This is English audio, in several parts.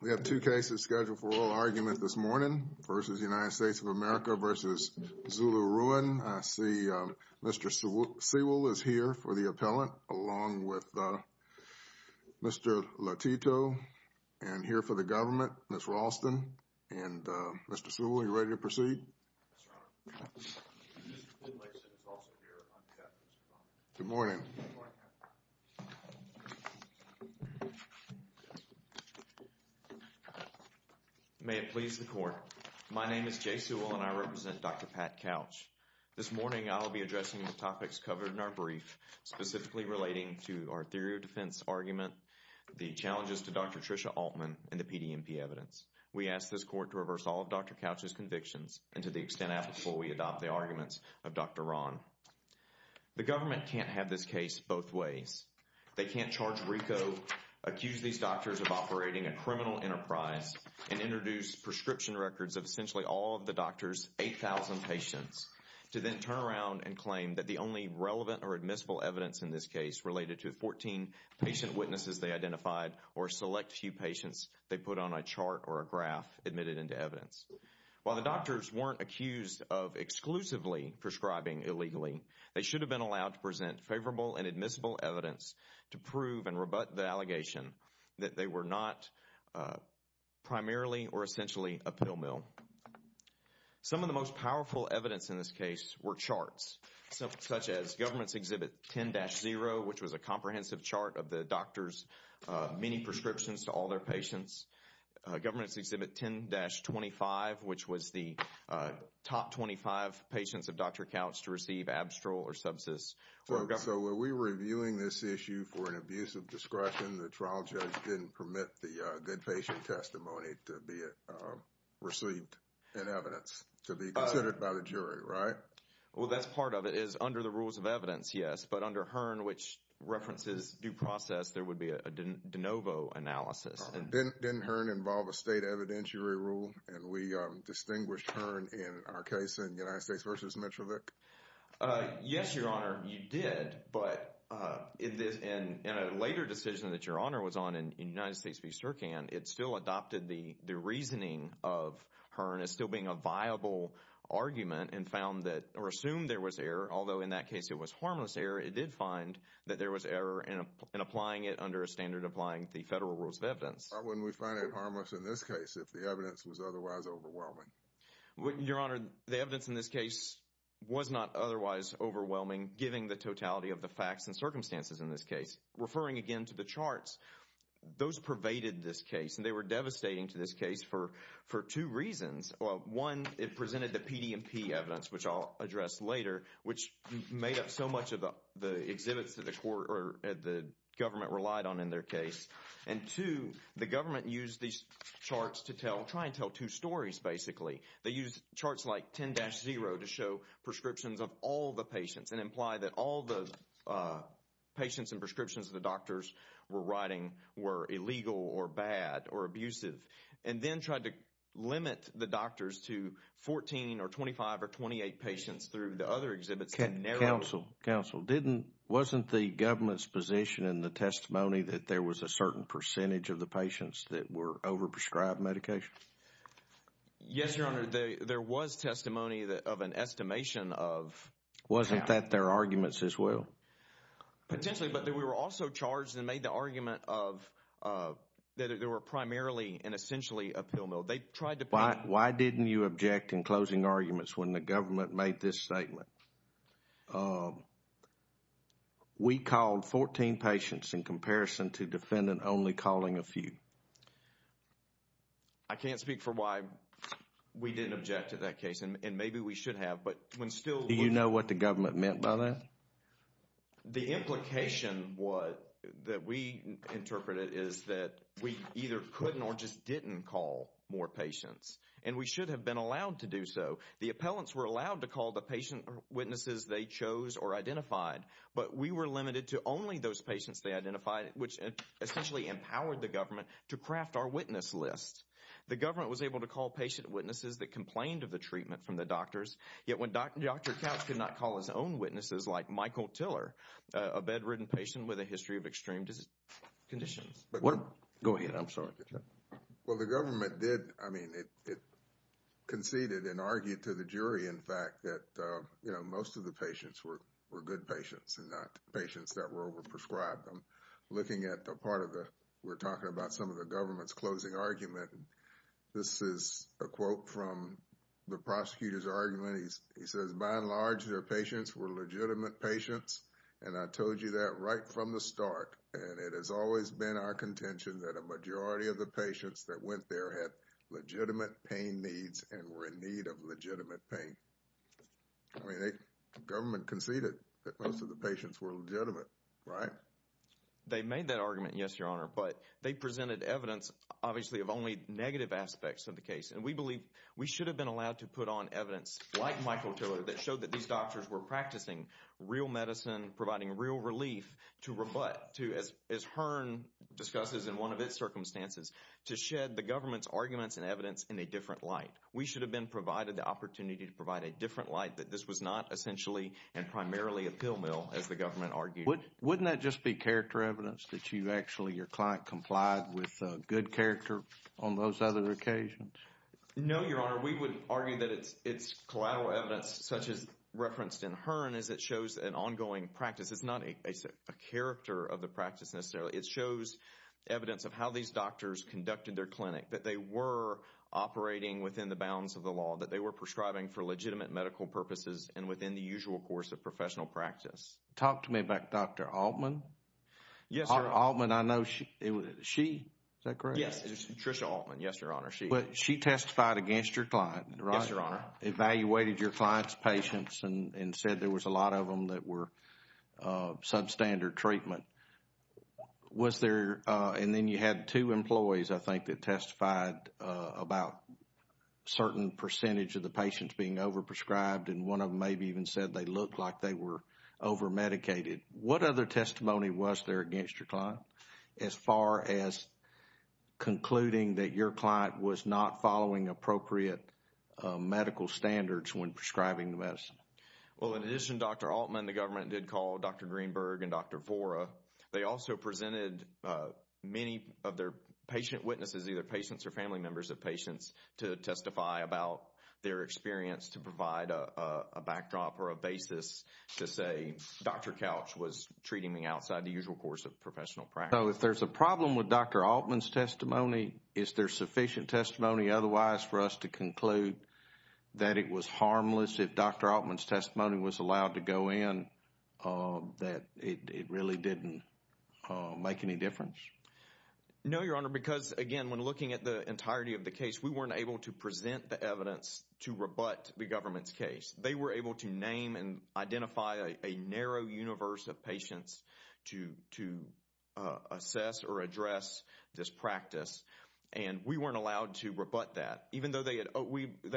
We have two cases scheduled for oral argument this morning, versus United States of America, versus Xiulu Ruan. I see Mr. Sewell is here for the appellant, along with Mr. Lotito. And here for the government, Ms. Raulston. And Mr. Sewell, are you ready to proceed? Yes, Your Honor. Mr. Finlayson is also here on behalf of Ms. Raulston. Good morning. Good morning. May it please the court. My name is Jay Sewell, and I represent Dr. Pat Couch. This morning, I will be addressing the topics covered in our brief, specifically relating to our theory of defense argument, the challenges to Dr. Tricia Altman, and the PDMP evidence. We ask this court to reverse all of Dr. Couch's convictions, and to the extent applicable, we adopt the arguments of Dr. Ruan. The government can't have this case both ways. They can't charge RICO, accuse these doctors of operating a criminal enterprise, and introduce prescription records of essentially all of the doctor's 8,000 patients, to then turn around and claim that the only relevant or admissible evidence in this case related to 14 patient witnesses they identified, or a select few patients they put on a chart or a graph admitted into evidence. While the doctors weren't accused of exclusively prescribing illegally, they should have been allowed to present favorable and admissible evidence to prove and rebut the allegation that they were not primarily or essentially a pill mill. Some of the most powerful evidence in this case were charts, such as government's exhibit 10-0, which was a comprehensive chart of the doctors' many prescriptions to all their patients. Government's exhibit 10-25, which was the top 25 patients of Dr. Couch to receive abstral or subsist. So were we reviewing this issue for an abuse of discretion? The trial judge didn't permit the dead patient testimony to be received in evidence, to be considered by the jury, right? Well, that's part of it, is under the rules of evidence, yes. But under HERN, which references due process, there would be a de novo analysis. Didn't HERN involve a state evidentiary rule, and we distinguished HERN in our case in United States v. Metrovic? Yes, Your Honor, you did. But in a later decision that Your Honor was on in United States v. Sercan, it still adopted the reasoning of HERN as still being a viable argument and found that, or assumed there was error, although in that case it was harmless error, it did find that there was error in applying it under a standard applying the federal rules of evidence. Why wouldn't we find it harmless in this case if the evidence was otherwise overwhelming? Your Honor, the evidence in this case was not otherwise overwhelming, given the totality of the facts and circumstances in this case. Referring again to the charts, those pervaded this case, and they were devastating to this case for two reasons. One, it presented the PDMP evidence, which I'll address later, which made up so much of the exhibits that the government relied on in their case. And two, the government used these charts to try and tell two stories, basically. They used charts like 10-0 to show prescriptions of all the patients and imply that all the patients and prescriptions the doctors were writing were illegal or bad or abusive, and then tried to limit the doctors to 14 or 25 or 28 patients through the other exhibits. Counsel, wasn't the government's position in the testimony that there was a certain percentage of the patients that were over-prescribed medication? Yes, Your Honor, there was testimony of an estimation of… Wasn't that their arguments as well? Potentially, but we were also charged and made the argument of that there were primarily and essentially a pill mill. Why didn't you object in closing arguments when the government made this statement? We called 14 patients in comparison to defendant only calling a few. I can't speak for why we didn't object to that case, and maybe we should have, but when still… Do you know what the government meant by that? The implication that we interpreted is that we either couldn't or just didn't call more patients, and we should have been allowed to do so. The appellants were allowed to call the patient witnesses they chose or identified, but we were limited to only those patients they identified, which essentially empowered the government to craft our witness list. The government was able to call patient witnesses that complained of the treatment from the doctors, yet when Dr. Couch could not call his own witnesses like Michael Tiller, a bedridden patient with a history of extreme conditions. Go ahead. I'm sorry. Well, the government did. I mean, it conceded and argued to the jury, in fact, that most of the patients were good patients and not patients that were overprescribed. I'm looking at the part of the… We're talking about some of the government's closing argument. This is a quote from the prosecutor's argument. He says, by and large, their patients were legitimate patients, and I told you that right from the start, and it has always been our contention that a majority of the patients that went there had legitimate pain needs and were in need of legitimate pain. I mean, the government conceded that most of the patients were legitimate, right? They made that argument, yes, Your Honor, but they presented evidence, obviously, of only negative aspects of the case, and we believe we should have been allowed to put on evidence like Michael Tiller that showed that these doctors were practicing real medicine, providing real relief to rebut, as Hearn discusses in one of its circumstances, to shed the government's arguments and evidence in a different light. We should have been provided the opportunity to provide a different light that this was not essentially and primarily a pill mill, as the government argued. Wouldn't that just be character evidence that you actually, your client, complied with good character on those other occasions? No, Your Honor. We would argue that it's collateral evidence, such as referenced in Hearn, as it shows an ongoing practice. It's not a character of the practice necessarily. It shows evidence of how these doctors conducted their clinic, that they were operating within the bounds of the law, that they were prescribing for legitimate medical purposes and within the usual course of professional practice. Talk to me about Dr. Altman. Yes, Your Honor. Altman, I know she, is that correct? Yes, Trisha Altman. Yes, Your Honor. She testified against your client, right? Yes, Your Honor. Evaluated your client's patients and said there was a lot of them that were substandard treatment. Was there, and then you had two employees, I think, that testified about a certain percentage of the patients being overprescribed, and one of them maybe even said they looked like they were overmedicated. What other testimony was there against your client, as far as concluding that your client was not following appropriate medical standards when prescribing the medicine? Well, in addition, Dr. Altman, the government did call Dr. Greenberg and Dr. Vora. They also presented many of their patient witnesses, either patients or family members of patients, to testify about their experience to provide a backdrop or a basis to say, Dr. Couch was treating me outside the usual course of professional practice. So if there's a problem with Dr. Altman's testimony, is there sufficient testimony otherwise for us to conclude that it was harmless if Dr. Altman's testimony was allowed to go in, that it really didn't make any difference? No, Your Honor, because, again, when looking at the entirety of the case, we weren't able to present the evidence to rebut the government's case. They were able to name and identify a narrow universe of patients to assess or address this practice, and we weren't allowed to rebut that. Even though they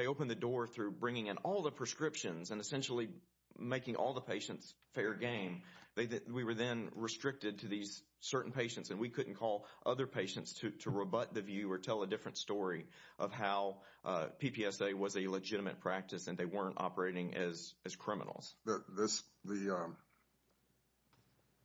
opened the door through bringing in all the prescriptions and essentially making all the patients fair game, we were then restricted to these certain patients, and we couldn't call other patients to rebut the view or tell a different story of how PPSA was a legitimate practice and they weren't operating as criminals. The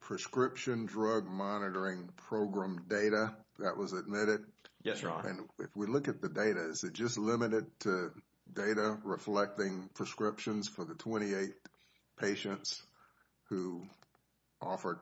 prescription drug monitoring program data, that was admitted? Yes, Your Honor. And if we look at the data, is it just limited to data reflecting prescriptions for the 28 patients who offered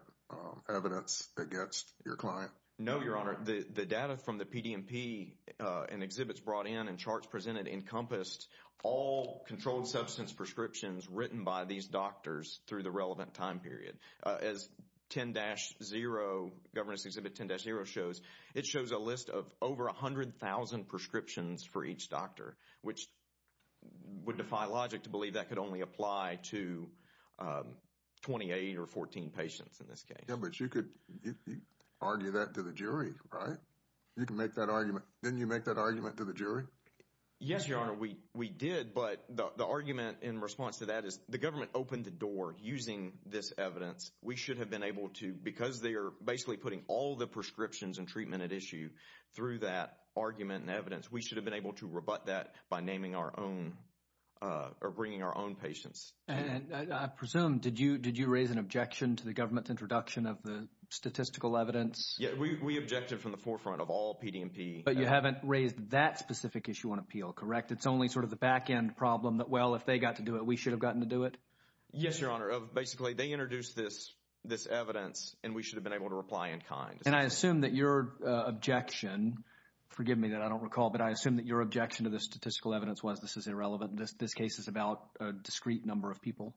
evidence against your client? No, Your Honor. The data from the PDMP and exhibits brought in and charts presented encompassed all controlled substance prescriptions written by these doctors through the relevant time period. As Governor's Exhibit 10-0 shows, it shows a list of over 100,000 prescriptions for each doctor, which would defy logic to believe that could only apply to 28 or 14 patients in this case. Yeah, but you could argue that to the jury, right? You can make that argument. Didn't you make that argument to the jury? Yes, Your Honor, we did, but the argument in response to that is the government opened the door using this evidence. We should have been able to, because they are basically putting all the prescriptions and treatment at issue through that argument and evidence, we should have been able to rebut that by naming our own or bringing our own patients. And I presume, did you raise an objection to the government's introduction of the statistical evidence? Yeah, we objected from the forefront of all PDMP. But you haven't raised that specific issue on appeal, correct? It's only sort of the back-end problem that, well, if they got to do it, we should have gotten to do it? Yes, Your Honor. Basically, they introduced this evidence, and we should have been able to reply in kind. And I assume that your objection, forgive me that I don't recall, but I assume that your objection to the statistical evidence was this is irrelevant, this case is about a discrete number of people?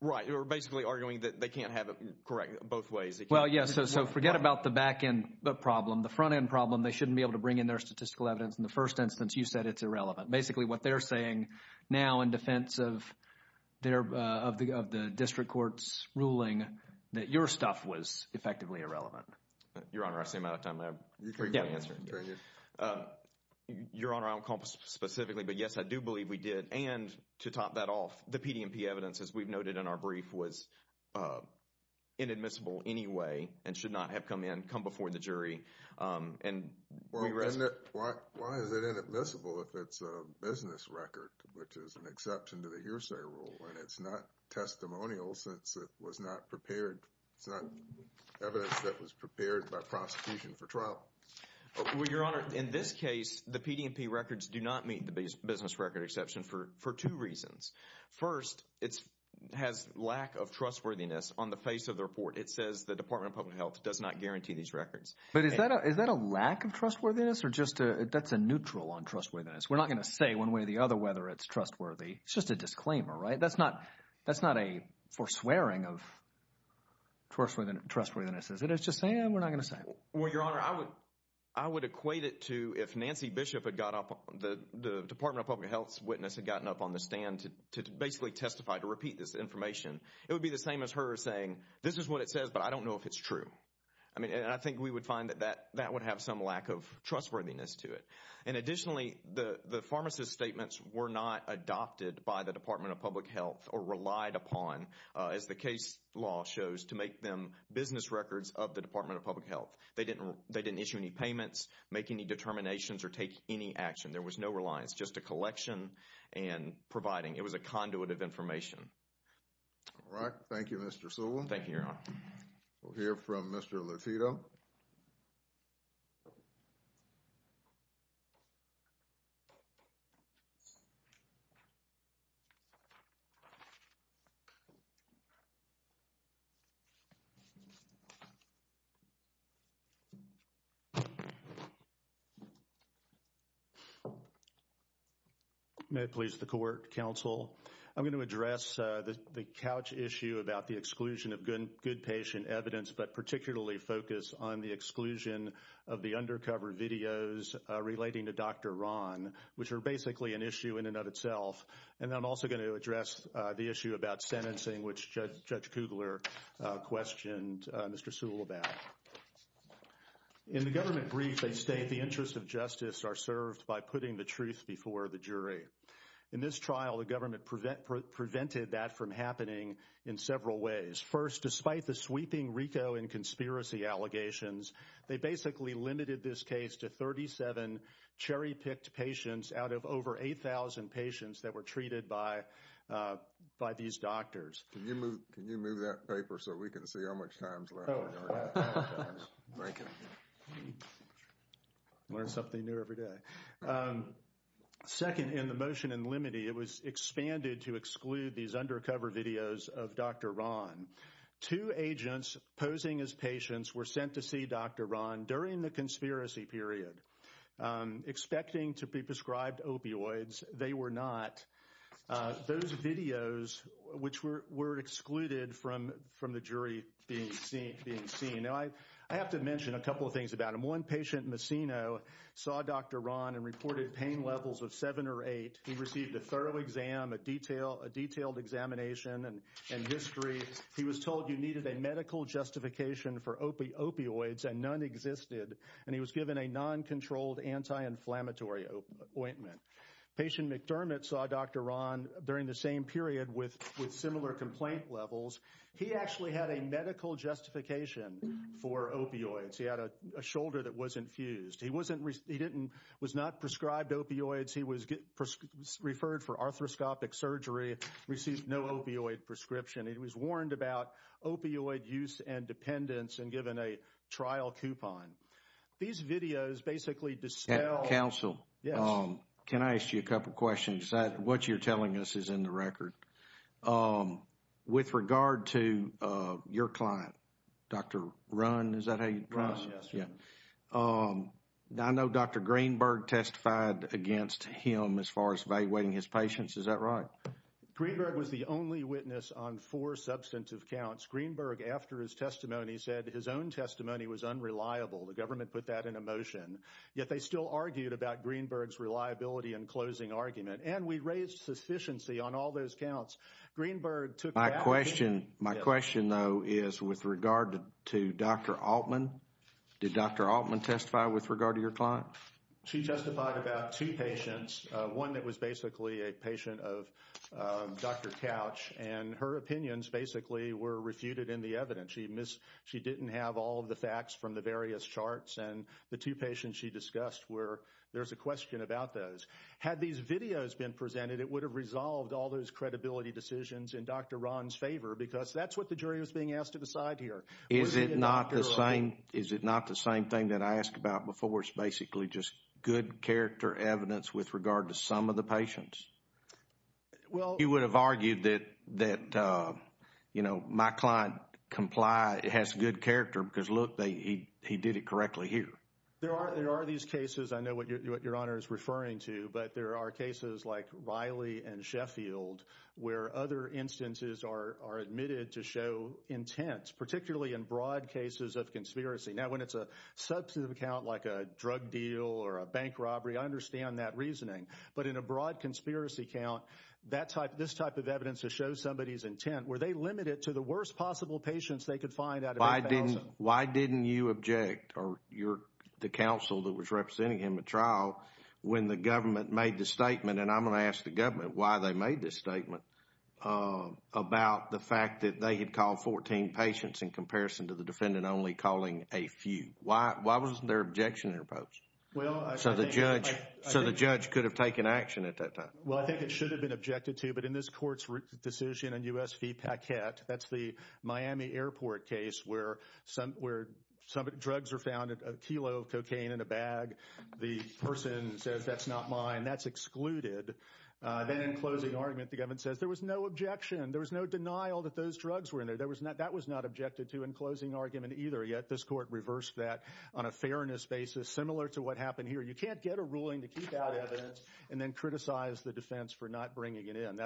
Right, you're basically arguing that they can't have it correct both ways. Well, yes, so forget about the back-end problem. The front-end problem, they shouldn't be able to bring in their statistical evidence. In the first instance, you said it's irrelevant. Basically, what they're saying now in defense of the district court's ruling, that your stuff was effectively irrelevant. Your Honor, I see I'm out of time. You can continue. Your Honor, I don't recall specifically, but, yes, I do believe we did. And to top that off, the PDMP evidence, as we've noted in our brief, was inadmissible anyway and should not have come in, come before the jury. Why is it inadmissible if it's a business record, which is an exception to the hearsay rule, when it's not testimonial since it was not prepared, it's not evidence that was prepared by prosecution for trial? Well, Your Honor, in this case, the PDMP records do not meet the business record exception for two reasons. First, it has lack of trustworthiness on the face of the report. It says the Department of Public Health does not guarantee these records. But is that a lack of trustworthiness or just a, that's a neutral on trustworthiness? We're not going to say one way or the other whether it's trustworthy. It's just a disclaimer, right? That's not a foreswearing of trustworthiness, is it? It's just saying we're not going to say it. Well, Your Honor, I would equate it to if Nancy Bishop had got up, the Department of Public Health's witness had gotten up on the stand to basically testify, to repeat this information, it would be the same as her saying, this is what it says, but I don't know if it's true. I mean, and I think we would find that that would have some lack of trustworthiness to it. And additionally, the pharmacist's statements were not adopted by the Department of Public Health or relied upon, as the case law shows, to make them business records of the Department of Public Health. They didn't issue any payments, make any determinations, or take any action. There was no reliance, just a collection and providing. It was a conduit of information. All right. Thank you, Mr. Sewell. Thank you, Your Honor. We'll hear from Mr. Lotito. May it please the Court, Counsel. I'm going to address the couch issue about the exclusion of good patient evidence, but particularly focus on the exclusion of the undercover videos relating to Dr. Ron, which are basically an issue in and of itself. And I'm also going to address the issue about sentencing, which Judge Kugler questioned Mr. Sewell about. In the government brief, they state the interests of justice are served by putting the truth before the jury. In this trial, the government prevented that from happening in several ways. First, despite the sweeping RICO and conspiracy allegations, they basically limited this case to 37 cherry-picked patients out of over 8,000 patients that were treated by these doctors. Can you move that paper so we can see how much time is left? Learn something new every day. Second, in the motion in limine, it was expanded to exclude these undercover videos of Dr. Ron. Two agents posing as patients were sent to see Dr. Ron during the conspiracy period. Expecting to be prescribed opioids, they were not. Those videos, which were excluded from the jury being seen. Now, I have to mention a couple of things about them. One patient, Massino, saw Dr. Ron and reported pain levels of 7 or 8. He received a thorough exam, a detailed examination and history. He was told you needed a medical justification for opioids and none existed. And he was given a non-controlled anti-inflammatory ointment. Patient McDermott saw Dr. Ron during the same period with similar complaint levels. He actually had a medical justification for opioids. He had a shoulder that wasn't fused. He was not prescribed opioids. He was referred for arthroscopic surgery, received no opioid prescription. He was warned about opioid use and dependence and given a trial coupon. These videos basically dispel... Counsel, can I ask you a couple of questions? What you're telling us is in the record. With regard to your client, Dr. Ron, is that how you address him? Ron, yes. I know Dr. Greenberg testified against him as far as evaluating his patients. Is that right? Greenberg was the only witness on four substantive counts. Greenberg, after his testimony, said his own testimony was unreliable. The government put that in a motion. Yet they still argued about Greenberg's reliability in closing argument. And we raised sufficiency on all those counts. Greenberg took... My question, though, is with regard to Dr. Altman. Did Dr. Altman testify with regard to your client? She testified about two patients. One that was basically a patient of Dr. Couch. And her opinions basically were refuted in the evidence. She didn't have all of the facts from the various charts. And the two patients she discussed were... There's a question about those. Had these videos been presented, it would have resolved all those credibility decisions in Dr. Ron's favor because that's what the jury was being asked to decide here. Is it not the same thing that I asked about before? It's basically just good character evidence with regard to some of the patients? Well... You would have argued that, you know, my client has good character because, look, he did it correctly here. There are these cases. I know what Your Honor is referring to. But there are cases like Riley and Sheffield where other instances are admitted to show intent, particularly in broad cases of conspiracy. Now, when it's a substantive account like a drug deal or a bank robbery, I understand that reasoning. But in a broad conspiracy count, this type of evidence to show somebody's intent, were they limited to the worst possible patients they could find out of their counsel? Why didn't you object, or the counsel that was representing him at trial, when the government made the statement, and I'm going to ask the government why they made this statement, about the fact that they had called 14 patients in comparison to the defendant only calling a few? Why wasn't there an objectionary approach? So the judge could have taken action at that time. Well, I think it should have been objected to. But in this Court's decision in U.S. v. Paquette, that's the Miami airport case where drugs are found, a kilo of cocaine in a bag. The person says, that's not mine. That's excluded. Then in closing argument, the government says, there was no objection. There was no denial that those drugs were in there. That was not objected to in closing argument either. Yet, this Court reversed that on a fairness basis, similar to what happened here. You can't get a ruling to keep out evidence and then criticize the defense for not bringing it in.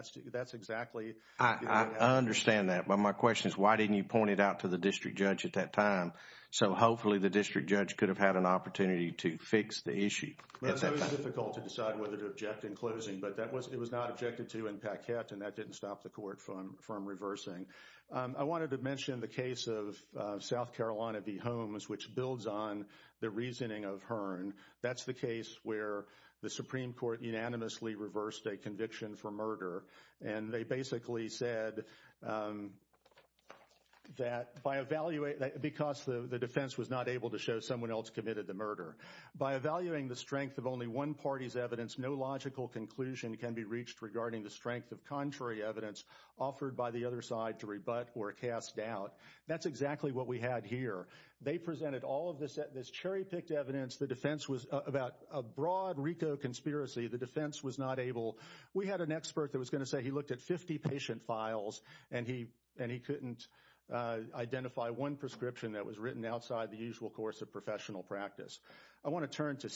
I understand that, but my question is, why didn't you point it out to the district judge at that time? So hopefully, the district judge could have had an opportunity to fix the issue at that time. It was difficult to decide whether to object in closing, but it was not objected to in Paquette, and that didn't stop the Court from reversing. I wanted to mention the case of South Carolina v. Holmes, which builds on the reasoning of Hearn. That's the case where the Supreme Court unanimously reversed a conviction for murder, and they basically said that, because the defense was not able to show someone else committed the murder, by evaluating the strength of only one party's evidence, no logical conclusion can be reached regarding the strength of contrary evidence offered by the other side to rebut or cast doubt. That's exactly what we had here. They presented all of this cherry-picked evidence. About a broad RICO conspiracy, the defense was not able— we had an expert that was going to say he looked at 50 patient files, and he couldn't identify one prescription that was written outside the usual course of professional practice. I want to turn to—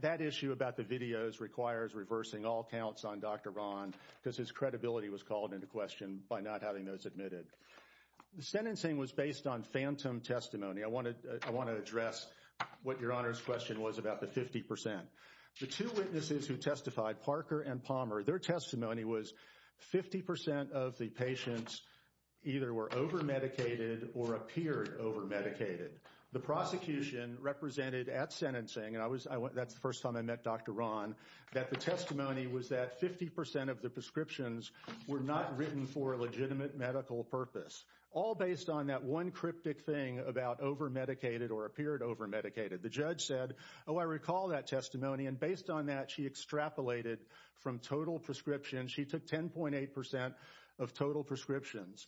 that issue about the videos requires reversing all counts on Dr. Ron, because his credibility was called into question by not having those admitted. The sentencing was based on phantom testimony. I want to address what Your Honor's question was about the 50%. The two witnesses who testified, Parker and Palmer, their testimony was 50% of the patients either were over-medicated or appeared over-medicated. The prosecution represented at sentencing— and that's the first time I met Dr. Ron— that the testimony was that 50% of the prescriptions were not written for a legitimate medical purpose, all based on that one cryptic thing about over-medicated or appeared over-medicated. The judge said, oh, I recall that testimony, and based on that, she extrapolated from total prescriptions. She took 10.8% of total prescriptions.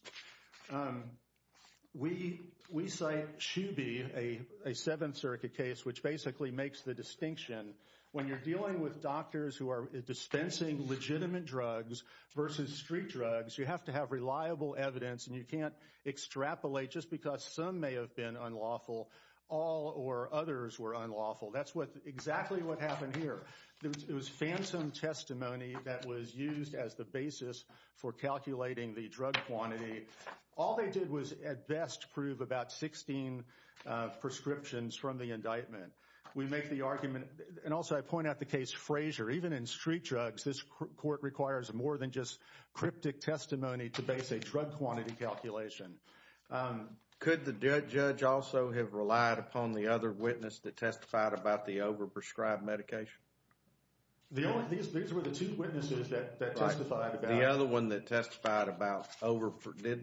We cite Shoeby, a Seventh Circuit case, which basically makes the distinction. When you're dealing with doctors who are dispensing legitimate drugs versus street drugs, you have to have reliable evidence, and you can't extrapolate just because some may have been unlawful, all or others were unlawful. That's exactly what happened here. It was phantom testimony that was used as the basis for calculating the drug quantity. All they did was, at best, prove about 16 prescriptions from the indictment. We make the argument—and also I point out the case Frazier. Even in street drugs, this court requires more than just cryptic testimony to base a drug quantity calculation. Could the judge also have relied upon the other witness that testified about the over-prescribed medication? These were the two witnesses that testified about— The other one that testified about over—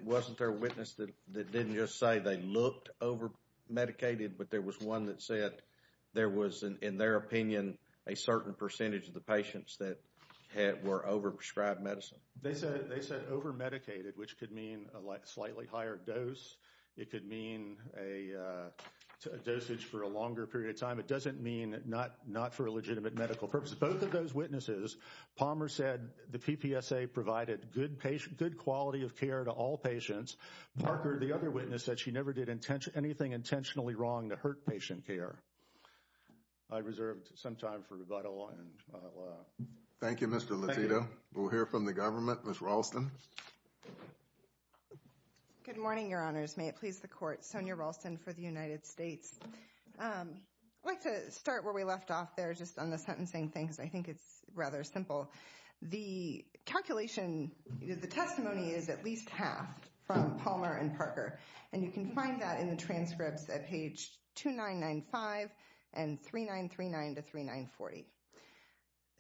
wasn't there a witness that didn't just say they looked over-medicated, but there was one that said there was, in their opinion, a certain percentage of the patients that were over-prescribed medicine? They said over-medicated, which could mean a slightly higher dose. It could mean a dosage for a longer period of time. It doesn't mean not for a legitimate medical purpose. Both of those witnesses, Palmer said the PPSA provided good quality of care to all patients. Parker, the other witness, said she never did anything intentionally wrong to hurt patient care. I reserved some time for rebuttal, and I'll— Ms. Ralston. Good morning, Your Honors. May it please the Court. Sonia Ralston for the United States. I'd like to start where we left off there, just on the sentencing thing, because I think it's rather simple. The calculation—the testimony is at least half from Palmer and Parker, and you can find that in the transcripts at page 2995 and 3939 to 3940.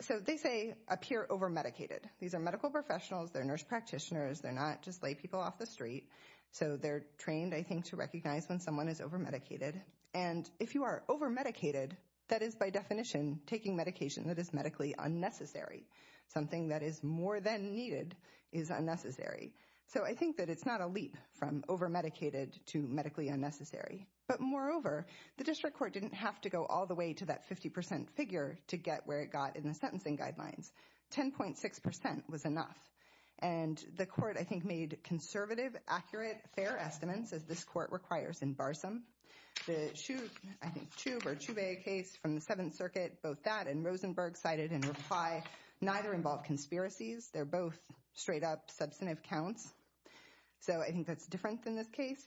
So they say appear over-medicated. These are medical professionals. They're nurse practitioners. They're not just laypeople off the street. So they're trained, I think, to recognize when someone is over-medicated. And if you are over-medicated, that is, by definition, taking medication that is medically unnecessary. Something that is more than needed is unnecessary. So I think that it's not a leap from over-medicated to medically unnecessary. But moreover, the District Court didn't have to go all the way to that 50 percent figure to get where it got in the sentencing guidelines. 10.6 percent was enough. And the Court, I think, made conservative, accurate, fair estimates, as this Court requires in Barsom. The Chub—I think Chub—or Chubais case from the Seventh Circuit, both that and Rosenberg cited in reply, neither involved conspiracies. They're both straight-up substantive counts. So I think that's different than this case.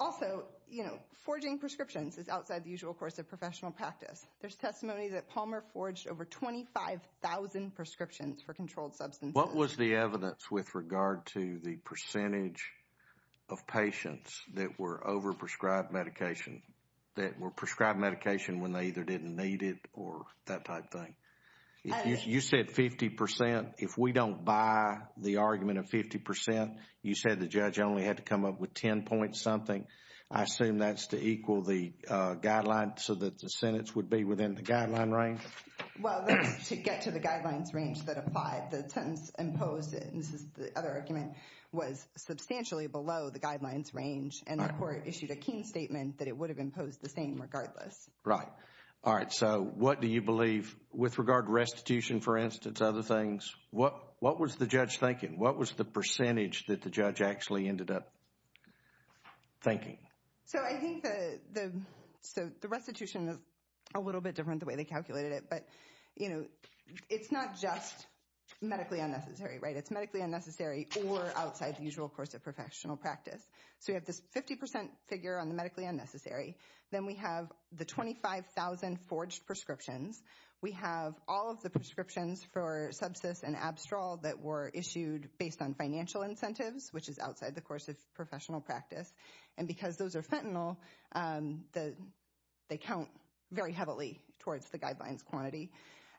Also, you know, forging prescriptions is outside the usual course of professional practice. There's testimony that Palmer forged over 25,000 prescriptions for controlled substances. What was the evidence with regard to the percentage of patients that were over-prescribed medication, that were prescribed medication when they either didn't need it or that type thing? You said 50 percent. If we don't buy the argument of 50 percent, you said the judge only had to come up with 10-point-something. I assume that's to equal the guideline so that the sentence would be within the guideline range? Well, that's to get to the guidelines range that applied. The sentence imposed—and this is the other argument— was substantially below the guidelines range. And the Court issued a keen statement that it would have imposed the same regardless. Right. All right. So what do you believe with regard to restitution, for instance, other things? What was the judge thinking? What was the percentage that the judge actually ended up thinking? So I think the restitution is a little bit different the way they calculated it. But, you know, it's not just medically unnecessary, right? It's medically unnecessary or outside the usual course of professional practice. So you have this 50 percent figure on the medically unnecessary. Then we have the 25,000 forged prescriptions. We have all of the prescriptions for sepsis and abstral that were issued based on financial incentives, which is outside the course of professional practice. And because those are fentanyl, they count very heavily towards the guidelines quantity.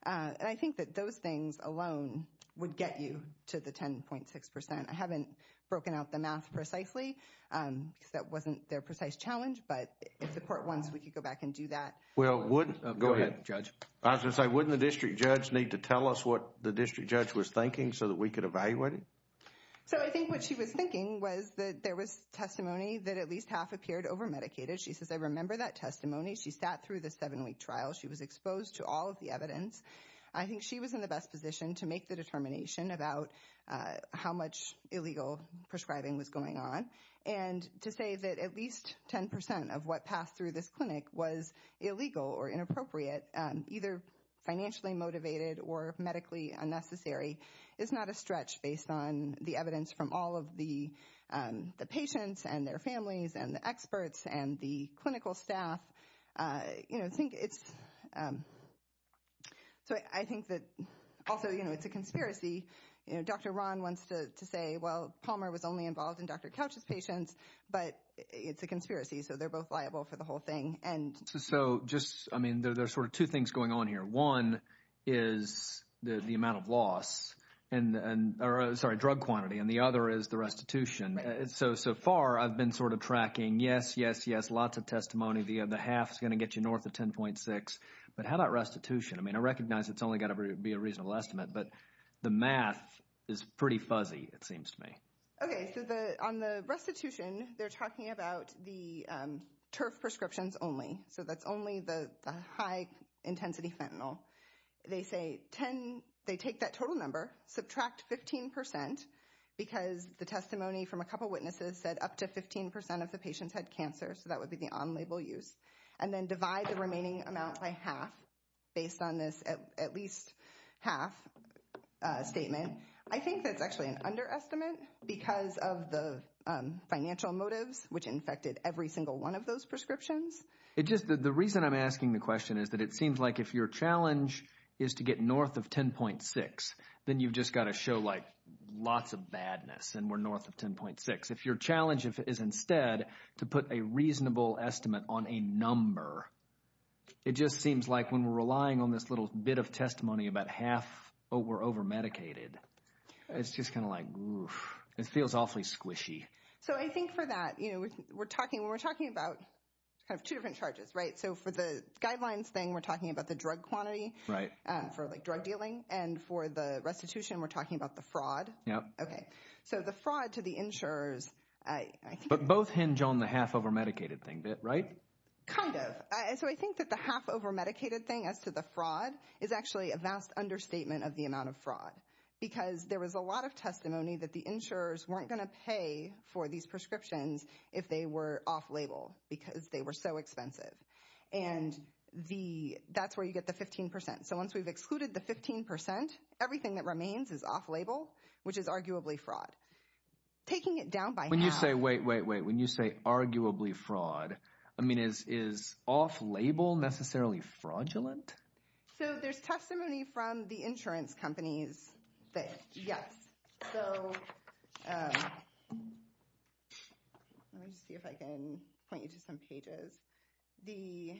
And I think that those things alone would get you to the 10.6 percent. I haven't broken out the math precisely because that wasn't their precise challenge. But if the Court wants, we could go back and do that. Go ahead, Judge. I was going to say, wouldn't the district judge need to tell us what the district judge was thinking so that we could evaluate it? So I think what she was thinking was that there was testimony that at least half appeared over-medicated. She says, I remember that testimony. She sat through the seven-week trial. She was exposed to all of the evidence. I think she was in the best position to make the determination about how much illegal prescribing was going on. And to say that at least 10 percent of what passed through this clinic was illegal or inappropriate, either financially motivated or medically unnecessary, is not a stretch based on the evidence from all of the patients and their families and the experts and the clinical staff. So I think that also it's a conspiracy. Dr. Ron wants to say, well, Palmer was only involved in Dr. Couch's patients, but it's a conspiracy, so they're both liable for the whole thing. So just, I mean, there's sort of two things going on here. One is the amount of loss, or sorry, drug quantity, and the other is the restitution. So far, I've been sort of tracking, yes, yes, yes, lots of testimony. The half is going to get you north of 10.6. But how about restitution? I mean, I recognize it's only got to be a reasonable estimate, but the math is pretty fuzzy, it seems to me. Okay, so on the restitution, they're talking about the TERF prescriptions only. So that's only the high-intensity fentanyl. They say they take that total number, subtract 15%, because the testimony from a couple of witnesses said up to 15% of the patients had cancer, so that would be the on-label use, and then divide the remaining amount by half based on this at least half statement. I think that's actually an underestimate because of the financial motives which infected every single one of those prescriptions. The reason I'm asking the question is that it seems like if your challenge is to get north of 10.6, then you've just got to show lots of badness, and we're north of 10.6. If your challenge is instead to put a reasonable estimate on a number, it just seems like when we're relying on this little bit of testimony, about half over-medicated, it's just kind of like, oof, it feels awfully squishy. So I think for that, when we're talking about two different charges, so for the guidelines thing, we're talking about the drug quantity for drug dealing, and for the restitution, we're talking about the fraud. So the fraud to the insurers, I think... But both hinge on the half over-medicated thing, right? Kind of. So I think that the half over-medicated thing as to the fraud is actually a vast understatement of the amount of fraud because there was a lot of testimony that the insurers weren't going to pay for these prescriptions if they were off-label because they were so expensive. And that's where you get the 15%. So once we've excluded the 15%, everything that remains is off-label, which is arguably fraud. Taking it down by half... Wait, wait, wait. I mean, is off-label necessarily fraudulent? So there's testimony from the insurance companies that, yes. So let me just see if I can point you to some pages. The...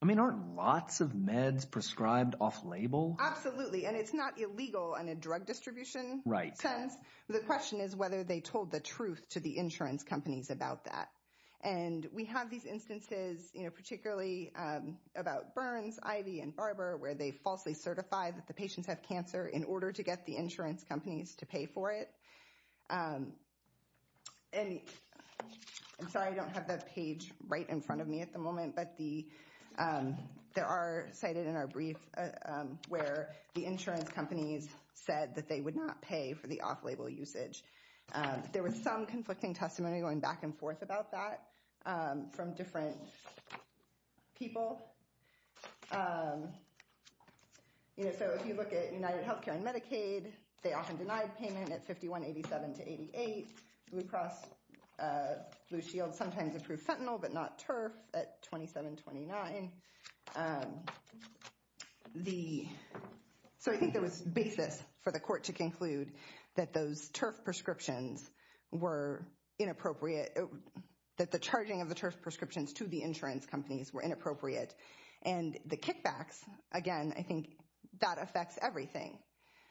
I mean, aren't lots of meds prescribed off-label? Absolutely, and it's not illegal in a drug distribution sense. The question is whether they told the truth to the insurance companies about that. And we have these instances, particularly about Burns, Ivy, and Barber, where they falsely certify that the patients have cancer in order to get the insurance companies to pay for it. And I'm sorry I don't have that page right in front of me at the moment, but there are cited in our brief where the insurance companies said that they would not pay for the off-label usage. There was some conflicting testimony going back and forth about that from different people. So if you look at UnitedHealthcare and Medicaid, they often denied payment at 51-87 to 88. Blue Cross Blue Shield sometimes approved fentanyl but not TERF at 27-29. So I think there was basis for the court to conclude that those TERF prescriptions were inappropriate, that the charging of the TERF prescriptions to the insurance companies were inappropriate. And the kickbacks, again, I think that affects everything.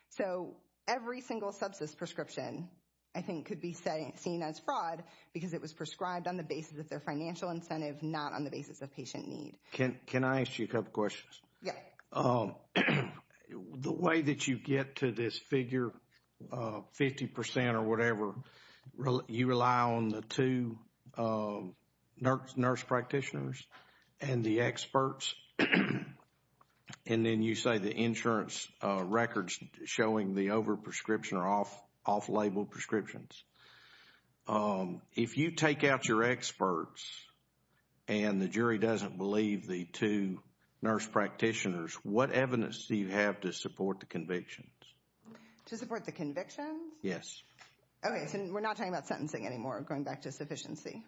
So every single substance prescription, I think, could be seen as fraud because it was prescribed on the basis of their financial incentive, not on the basis of patient need. Can I ask you a couple questions? Yeah. The way that you get to this figure, 50% or whatever, you rely on the two nurse practitioners and the experts, and then you say the insurance records showing the overprescription or off-label prescriptions. If you take out your experts and the jury doesn't believe the two nurse practitioners, what evidence do you have to support the convictions? To support the convictions? Yes. Okay, so we're not talking about sentencing anymore, going back to sufficiency.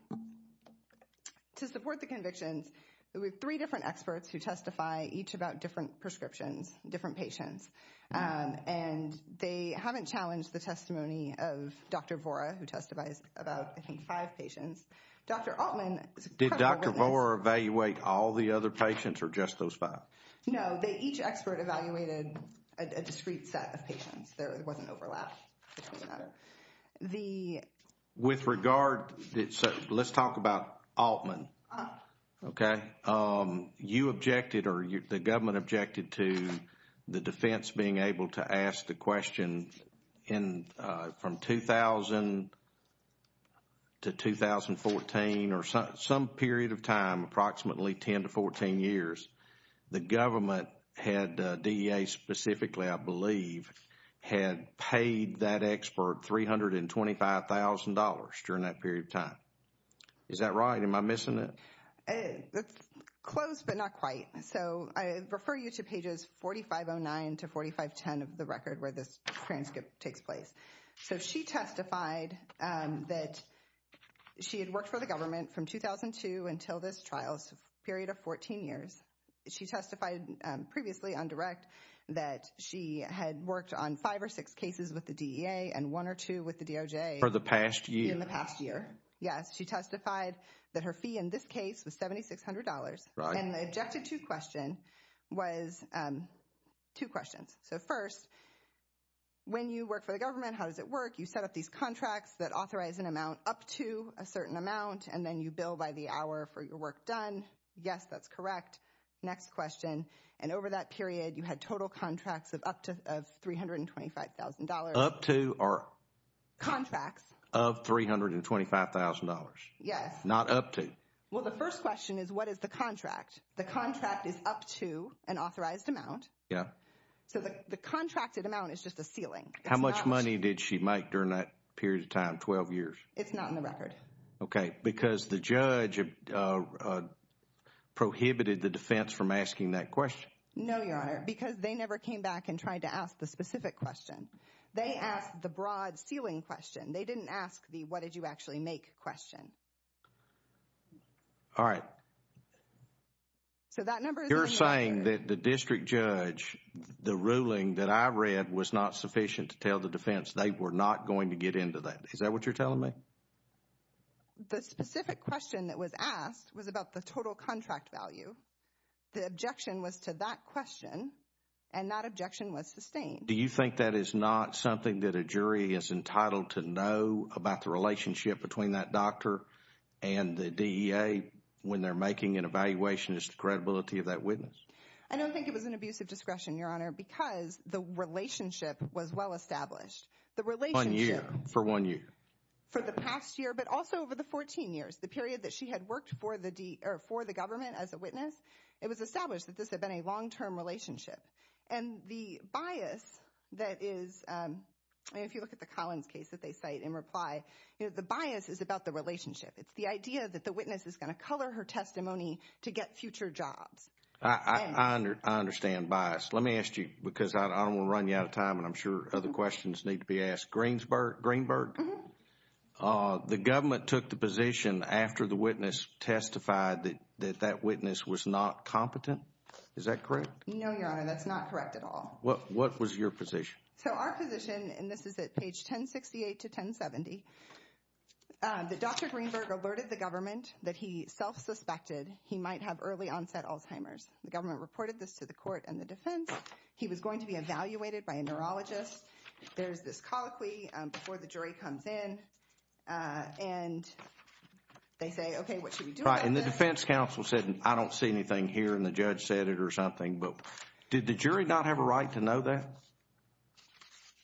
To support the convictions, we have three different experts who testify each about different prescriptions, different patients. And they haven't challenged the testimony of Dr. Vora, who testifies about, I think, five patients. Dr. Altman. Did Dr. Vora evaluate all the other patients or just those five? No, each expert evaluated a discrete set of patients. There wasn't overlap. With regard, let's talk about Altman. Okay. You objected or the government objected to the defense being able to ask the question from 2000 to 2014 or some period of time, approximately 10 to 14 years. The government had DEA specifically, I believe, had paid that expert $325,000 during that period of time. Is that right? Am I missing it? Close, but not quite. So I refer you to pages 4509 to 4510 of the record where this transcript takes place. So she testified that she had worked for the government from 2002 until this trial's period of 14 years. She testified previously on direct that she had worked on five or six cases with the DEA and one or two with the DOJ. For the past year. In the past year, yes. She testified that her fee in this case was $7,600. Right. And the objected to question was two questions. So first, when you work for the government, how does it work? You set up these contracts that authorize an amount up to a certain amount and then you bill by the hour for your work done. Yes, that's correct. Next question. And over that period, you had total contracts of up to $325,000. Up to or? Contracts. Of $325,000. Yes. Not up to. Well, the first question is what is the contract? The contract is up to an authorized amount. Yes. So the contracted amount is just a ceiling. How much money did she make during that period of time, 12 years? It's not in the record. Okay. Because the judge prohibited the defense from asking that question? No, Your Honor, because they never came back and tried to ask the specific question. They asked the broad ceiling question. They didn't ask the what did you actually make question. All right. So that number is in the record. You're saying that the district judge, the ruling that I read, was not sufficient to tell the defense they were not going to get into that. Is that what you're telling me? The specific question that was asked was about the total contract value. The objection was to that question and that objection was sustained. Do you think that is not something that a jury is entitled to know about the relationship between that doctor and the DEA when they're making an evaluation as to the credibility of that witness? I don't think it was an abuse of discretion, Your Honor, because the relationship was well established. One year. For one year. For the past year, but also over the 14 years, the period that she had worked for the government as a witness, it was established that this had been a long-term relationship. And the bias that is, if you look at the Collins case that they cite in reply, the bias is about the relationship. It's the idea that the witness is going to color her testimony to get future jobs. I understand bias. Let me ask you because I don't want to run you out of time and I'm sure other questions need to be asked. Greenberg, the government took the position after the witness testified that that witness was not competent. Is that correct? No, Your Honor, that's not correct at all. What was your position? So our position, and this is at page 1068 to 1070, that Dr. Greenberg alerted the government that he self-suspected he might have early-onset Alzheimer's. The government reported this to the court and the defense. He was going to be evaluated by a neurologist. There's this colloquy before the jury comes in, and they say, okay, what should we do about this? And the defense counsel said, I don't see anything here, and the judge said it or something. But did the jury not have a right to know that?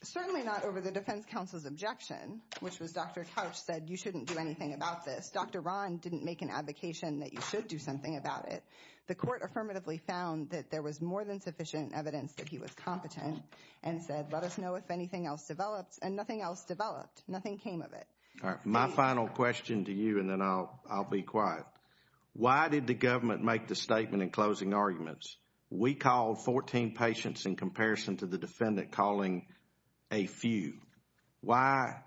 Certainly not over the defense counsel's objection, which was Dr. Couch said you shouldn't do anything about this. Dr. Ron didn't make an advocation that you should do something about it. The court affirmatively found that there was more than sufficient evidence that he was competent and said, let us know if anything else developed, and nothing else developed. Nothing came of it. All right, my final question to you, and then I'll be quiet. Why did the government make the statement in closing arguments? We called 14 patients in comparison to the defendant calling a few. Why?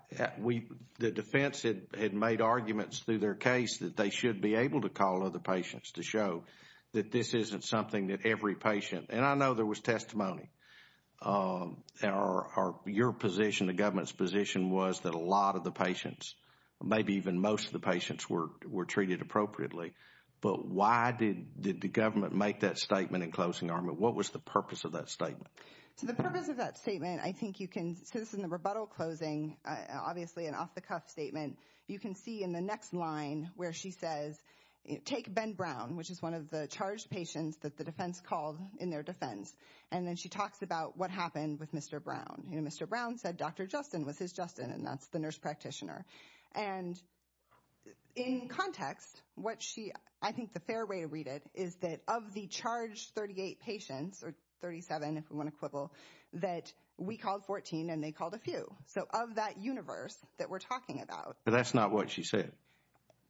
The defense had made arguments through their case that they should be able to call other patients to show that this isn't something that every patient, and I know there was testimony. Your position, the government's position was that a lot of the patients, maybe even most of the patients were treated appropriately. But why did the government make that statement in closing argument? What was the purpose of that statement? So the purpose of that statement, I think you can see this in the rebuttal closing, obviously an off-the-cuff statement. You can see in the next line where she says, take Ben Brown, which is one of the charged patients that the defense called in their defense, and then she talks about what happened with Mr. Brown. Mr. Brown said Dr. Justin was his Justin, and that's the nurse practitioner. And in context, what she, I think the fair way to read it is that of the charged 38 patients, or 37 if we want to quibble, that we called 14 and they called a few. So of that universe that we're talking about. But that's not what she said.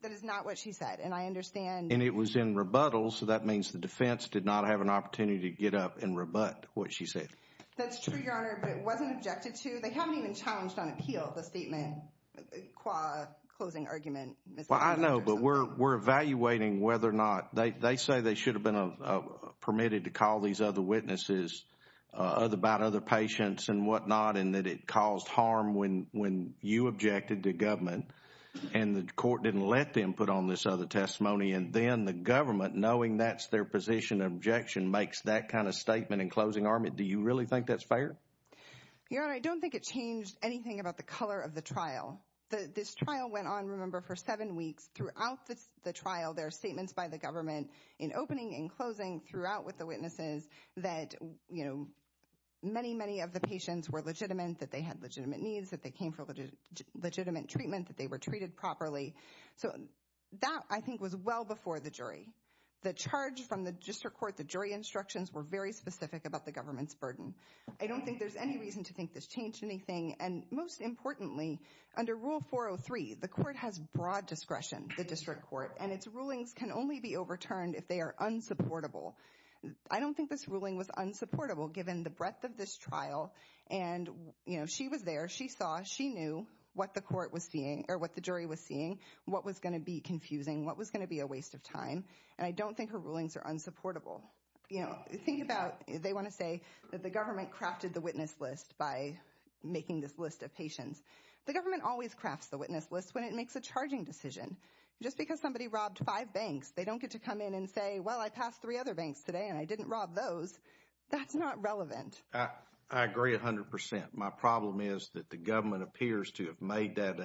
That is not what she said, and I understand. And it was in rebuttal, so that means the defense did not have an opportunity to get up and rebut what she said. That's true, Your Honor, but it wasn't objected to. They haven't even challenged on appeal the statement, closing argument. Well, I know, but we're evaluating whether or not, they say they should have been permitted to call these other witnesses about other patients and whatnot, and that it caused harm when you objected to government, and the court didn't let them put on this other testimony. And then the government, knowing that's their position of objection, makes that kind of statement in closing argument. Do you really think that's fair? Your Honor, I don't think it changed anything about the color of the trial. This trial went on, remember, for seven weeks. Throughout the trial, there are statements by the government, in opening and closing, throughout with the witnesses, that many, many of the patients were legitimate, that they had legitimate needs, that they came for legitimate treatment, that they were treated properly. So that, I think, was well before the jury. The charge from the district court, the jury instructions, were very specific about the government's burden. I don't think there's any reason to think this changed anything, and most importantly, under Rule 403, the court has broad discretion, the district court, and its rulings can only be overturned if they are unsupportable. I don't think this ruling was unsupportable, given the breadth of this trial, and she was there, she saw, she knew what the jury was seeing, what was going to be confusing, what was going to be a waste of time, and I don't think her rulings are unsupportable. Think about, they want to say that the government crafted the witness list by making this list of patients. The government always crafts the witness list when it makes a charging decision. Just because somebody robbed five banks, they don't get to come in and say, well, I passed three other banks today and I didn't rob those. That's not relevant. I agree 100%. My problem is that the government appears to have made that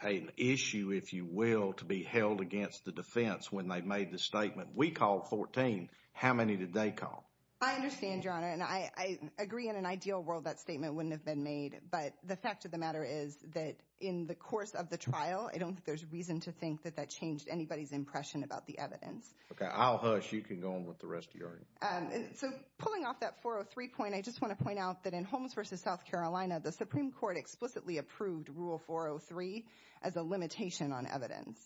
an issue, if you will, to be held against the defense when they made the statement, we called 14, how many did they call? I understand, Your Honor, and I agree in an ideal world that statement wouldn't have been made, but the fact of the matter is that in the course of the trial, I don't think there's reason to think that that changed anybody's impression about the evidence. Okay, I'll hush. You can go on with the rest of your argument. So pulling off that 403 point, I just want to point out that in Holmes v. South Carolina, the Supreme Court explicitly approved Rule 403 as a limitation on evidence.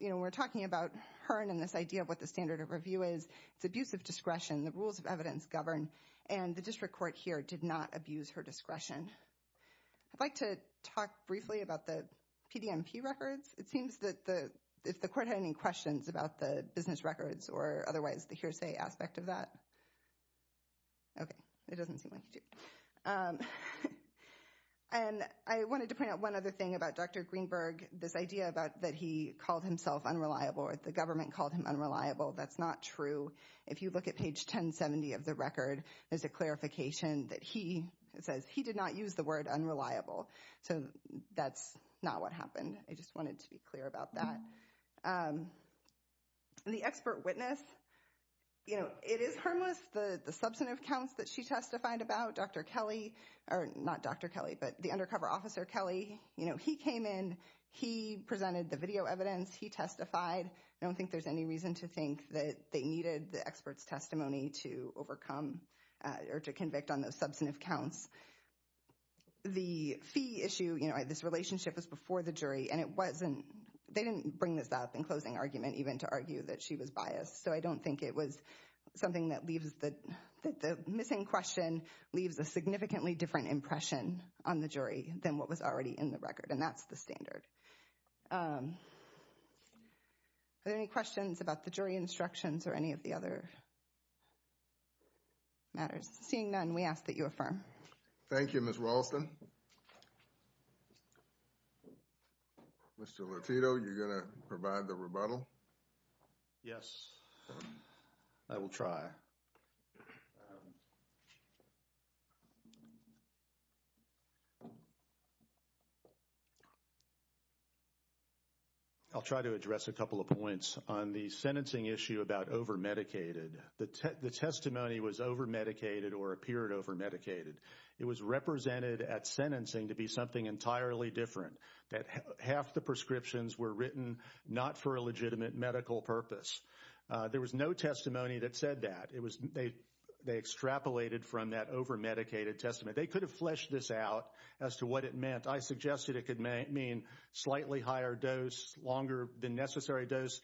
We're talking about Hearn and this idea of what the standard of review is. It's abuse of discretion. The rules of evidence govern, and the district court here did not abuse her discretion. I'd like to talk briefly about the PDMP records. It seems that if the court had any questions about the business records or otherwise the hearsay aspect of that. Okay, it doesn't seem like it. And I wanted to point out one other thing about Dr. Greenberg, this idea that he called himself unreliable or the government called him unreliable. That's not true. If you look at page 1070 of the record, there's a clarification that he says he did not use the word unreliable. So that's not what happened. I just wanted to be clear about that. The expert witness, you know, it is harmless. The substantive counts that she testified about, Dr. Kelly, or not Dr. Kelly, but the undercover officer Kelly, you know, he came in, he presented the video evidence, he testified. I don't think there's any reason to think that they needed the expert's testimony to overcome or to convict on those substantive counts. The fee issue, you know, this relationship was before the jury and it wasn't, they didn't bring this up in closing argument even to argue that she was biased. So I don't think it was something that leaves, that the missing question leaves a significantly different impression on the jury than what was already in the record and that's the standard. Are there any questions about the jury instructions or any of the other matters? Seeing none, we ask that you affirm. Thank you, Ms. Raulston. Mr. Lotito, you're going to provide the rebuttal? Yes. I will try. I'll try to address a couple of points on the sentencing issue about over-medicated. The testimony was over-medicated or appeared over-medicated. It was represented at sentencing to be something entirely different, that half the prescriptions were written not for a legitimate medical purpose. There was no testimony that said that. They extrapolated from that over-medicated testimony. They could have fleshed this out as to what it meant. I suggested it could mean slightly higher dose, longer than necessary dose.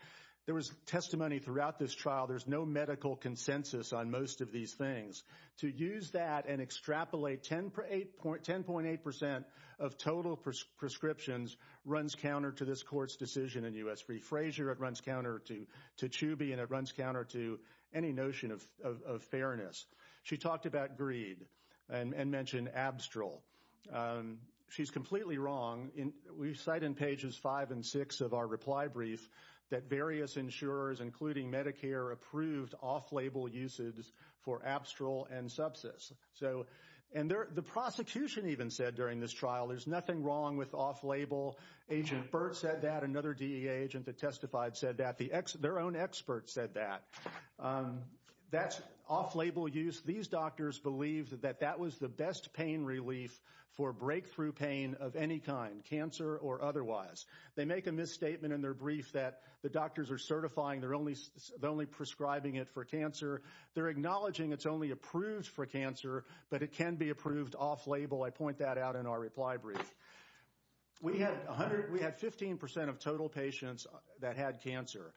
There was testimony throughout this trial. There's no medical consensus on most of these things. To use that and extrapolate 10.8% of total prescriptions runs counter to this court's decision in U.S. v. Frazier. It runs counter to Chuby, and it runs counter to any notion of fairness. She talked about greed and mentioned Abstral. She's completely wrong. We cite in pages 5 and 6 of our reply brief that various insurers, including Medicare, approved off-label usage for Abstral and Subsys. The prosecution even said during this trial, there's nothing wrong with off-label. Agent Burt said that. Another DEA agent that testified said that. Their own expert said that. That's off-label use. These doctors believe that that was the best pain relief for breakthrough pain of any kind, cancer or otherwise. They make a misstatement in their brief that the doctors are certifying they're only prescribing it for cancer. They're acknowledging it's only approved for cancer, but it can be approved off-label. I point that out in our reply brief. We had 15% of total patients that had cancer.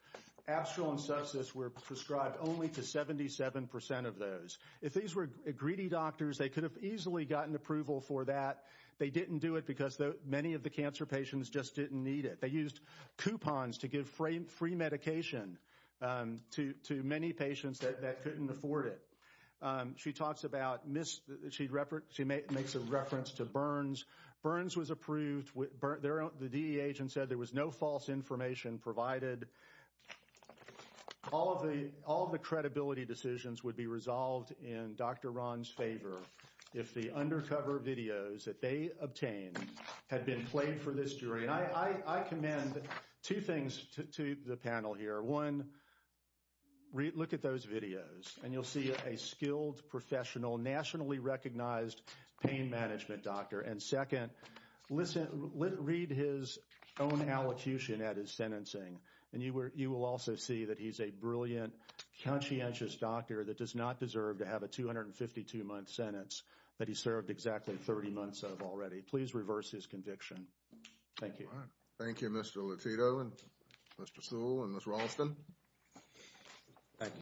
Abstral and Subsys were prescribed only to 77% of those. If these were greedy doctors, they could have easily gotten approval for that. They didn't do it because many of the cancer patients just didn't need it. They used coupons to give free medication to many patients that couldn't afford it. She makes a reference to Burns. Burns was approved. The DEA agent said there was no false information provided. All of the credibility decisions would be resolved in Dr. Ron's favor if the undercover videos that they obtained had been played for this jury. I commend two things to the panel here. One, look at those videos, and you'll see a skilled, professional, nationally recognized pain management doctor. Second, read his own allocution at his sentencing. You will also see that he's a brilliant, conscientious doctor that does not deserve to have a 252-month sentence that he served exactly 30 months of already. Please reverse his conviction. Thank you. Thank you, Mr. Lotito, Mr. Sewell, and Ms. Raulston.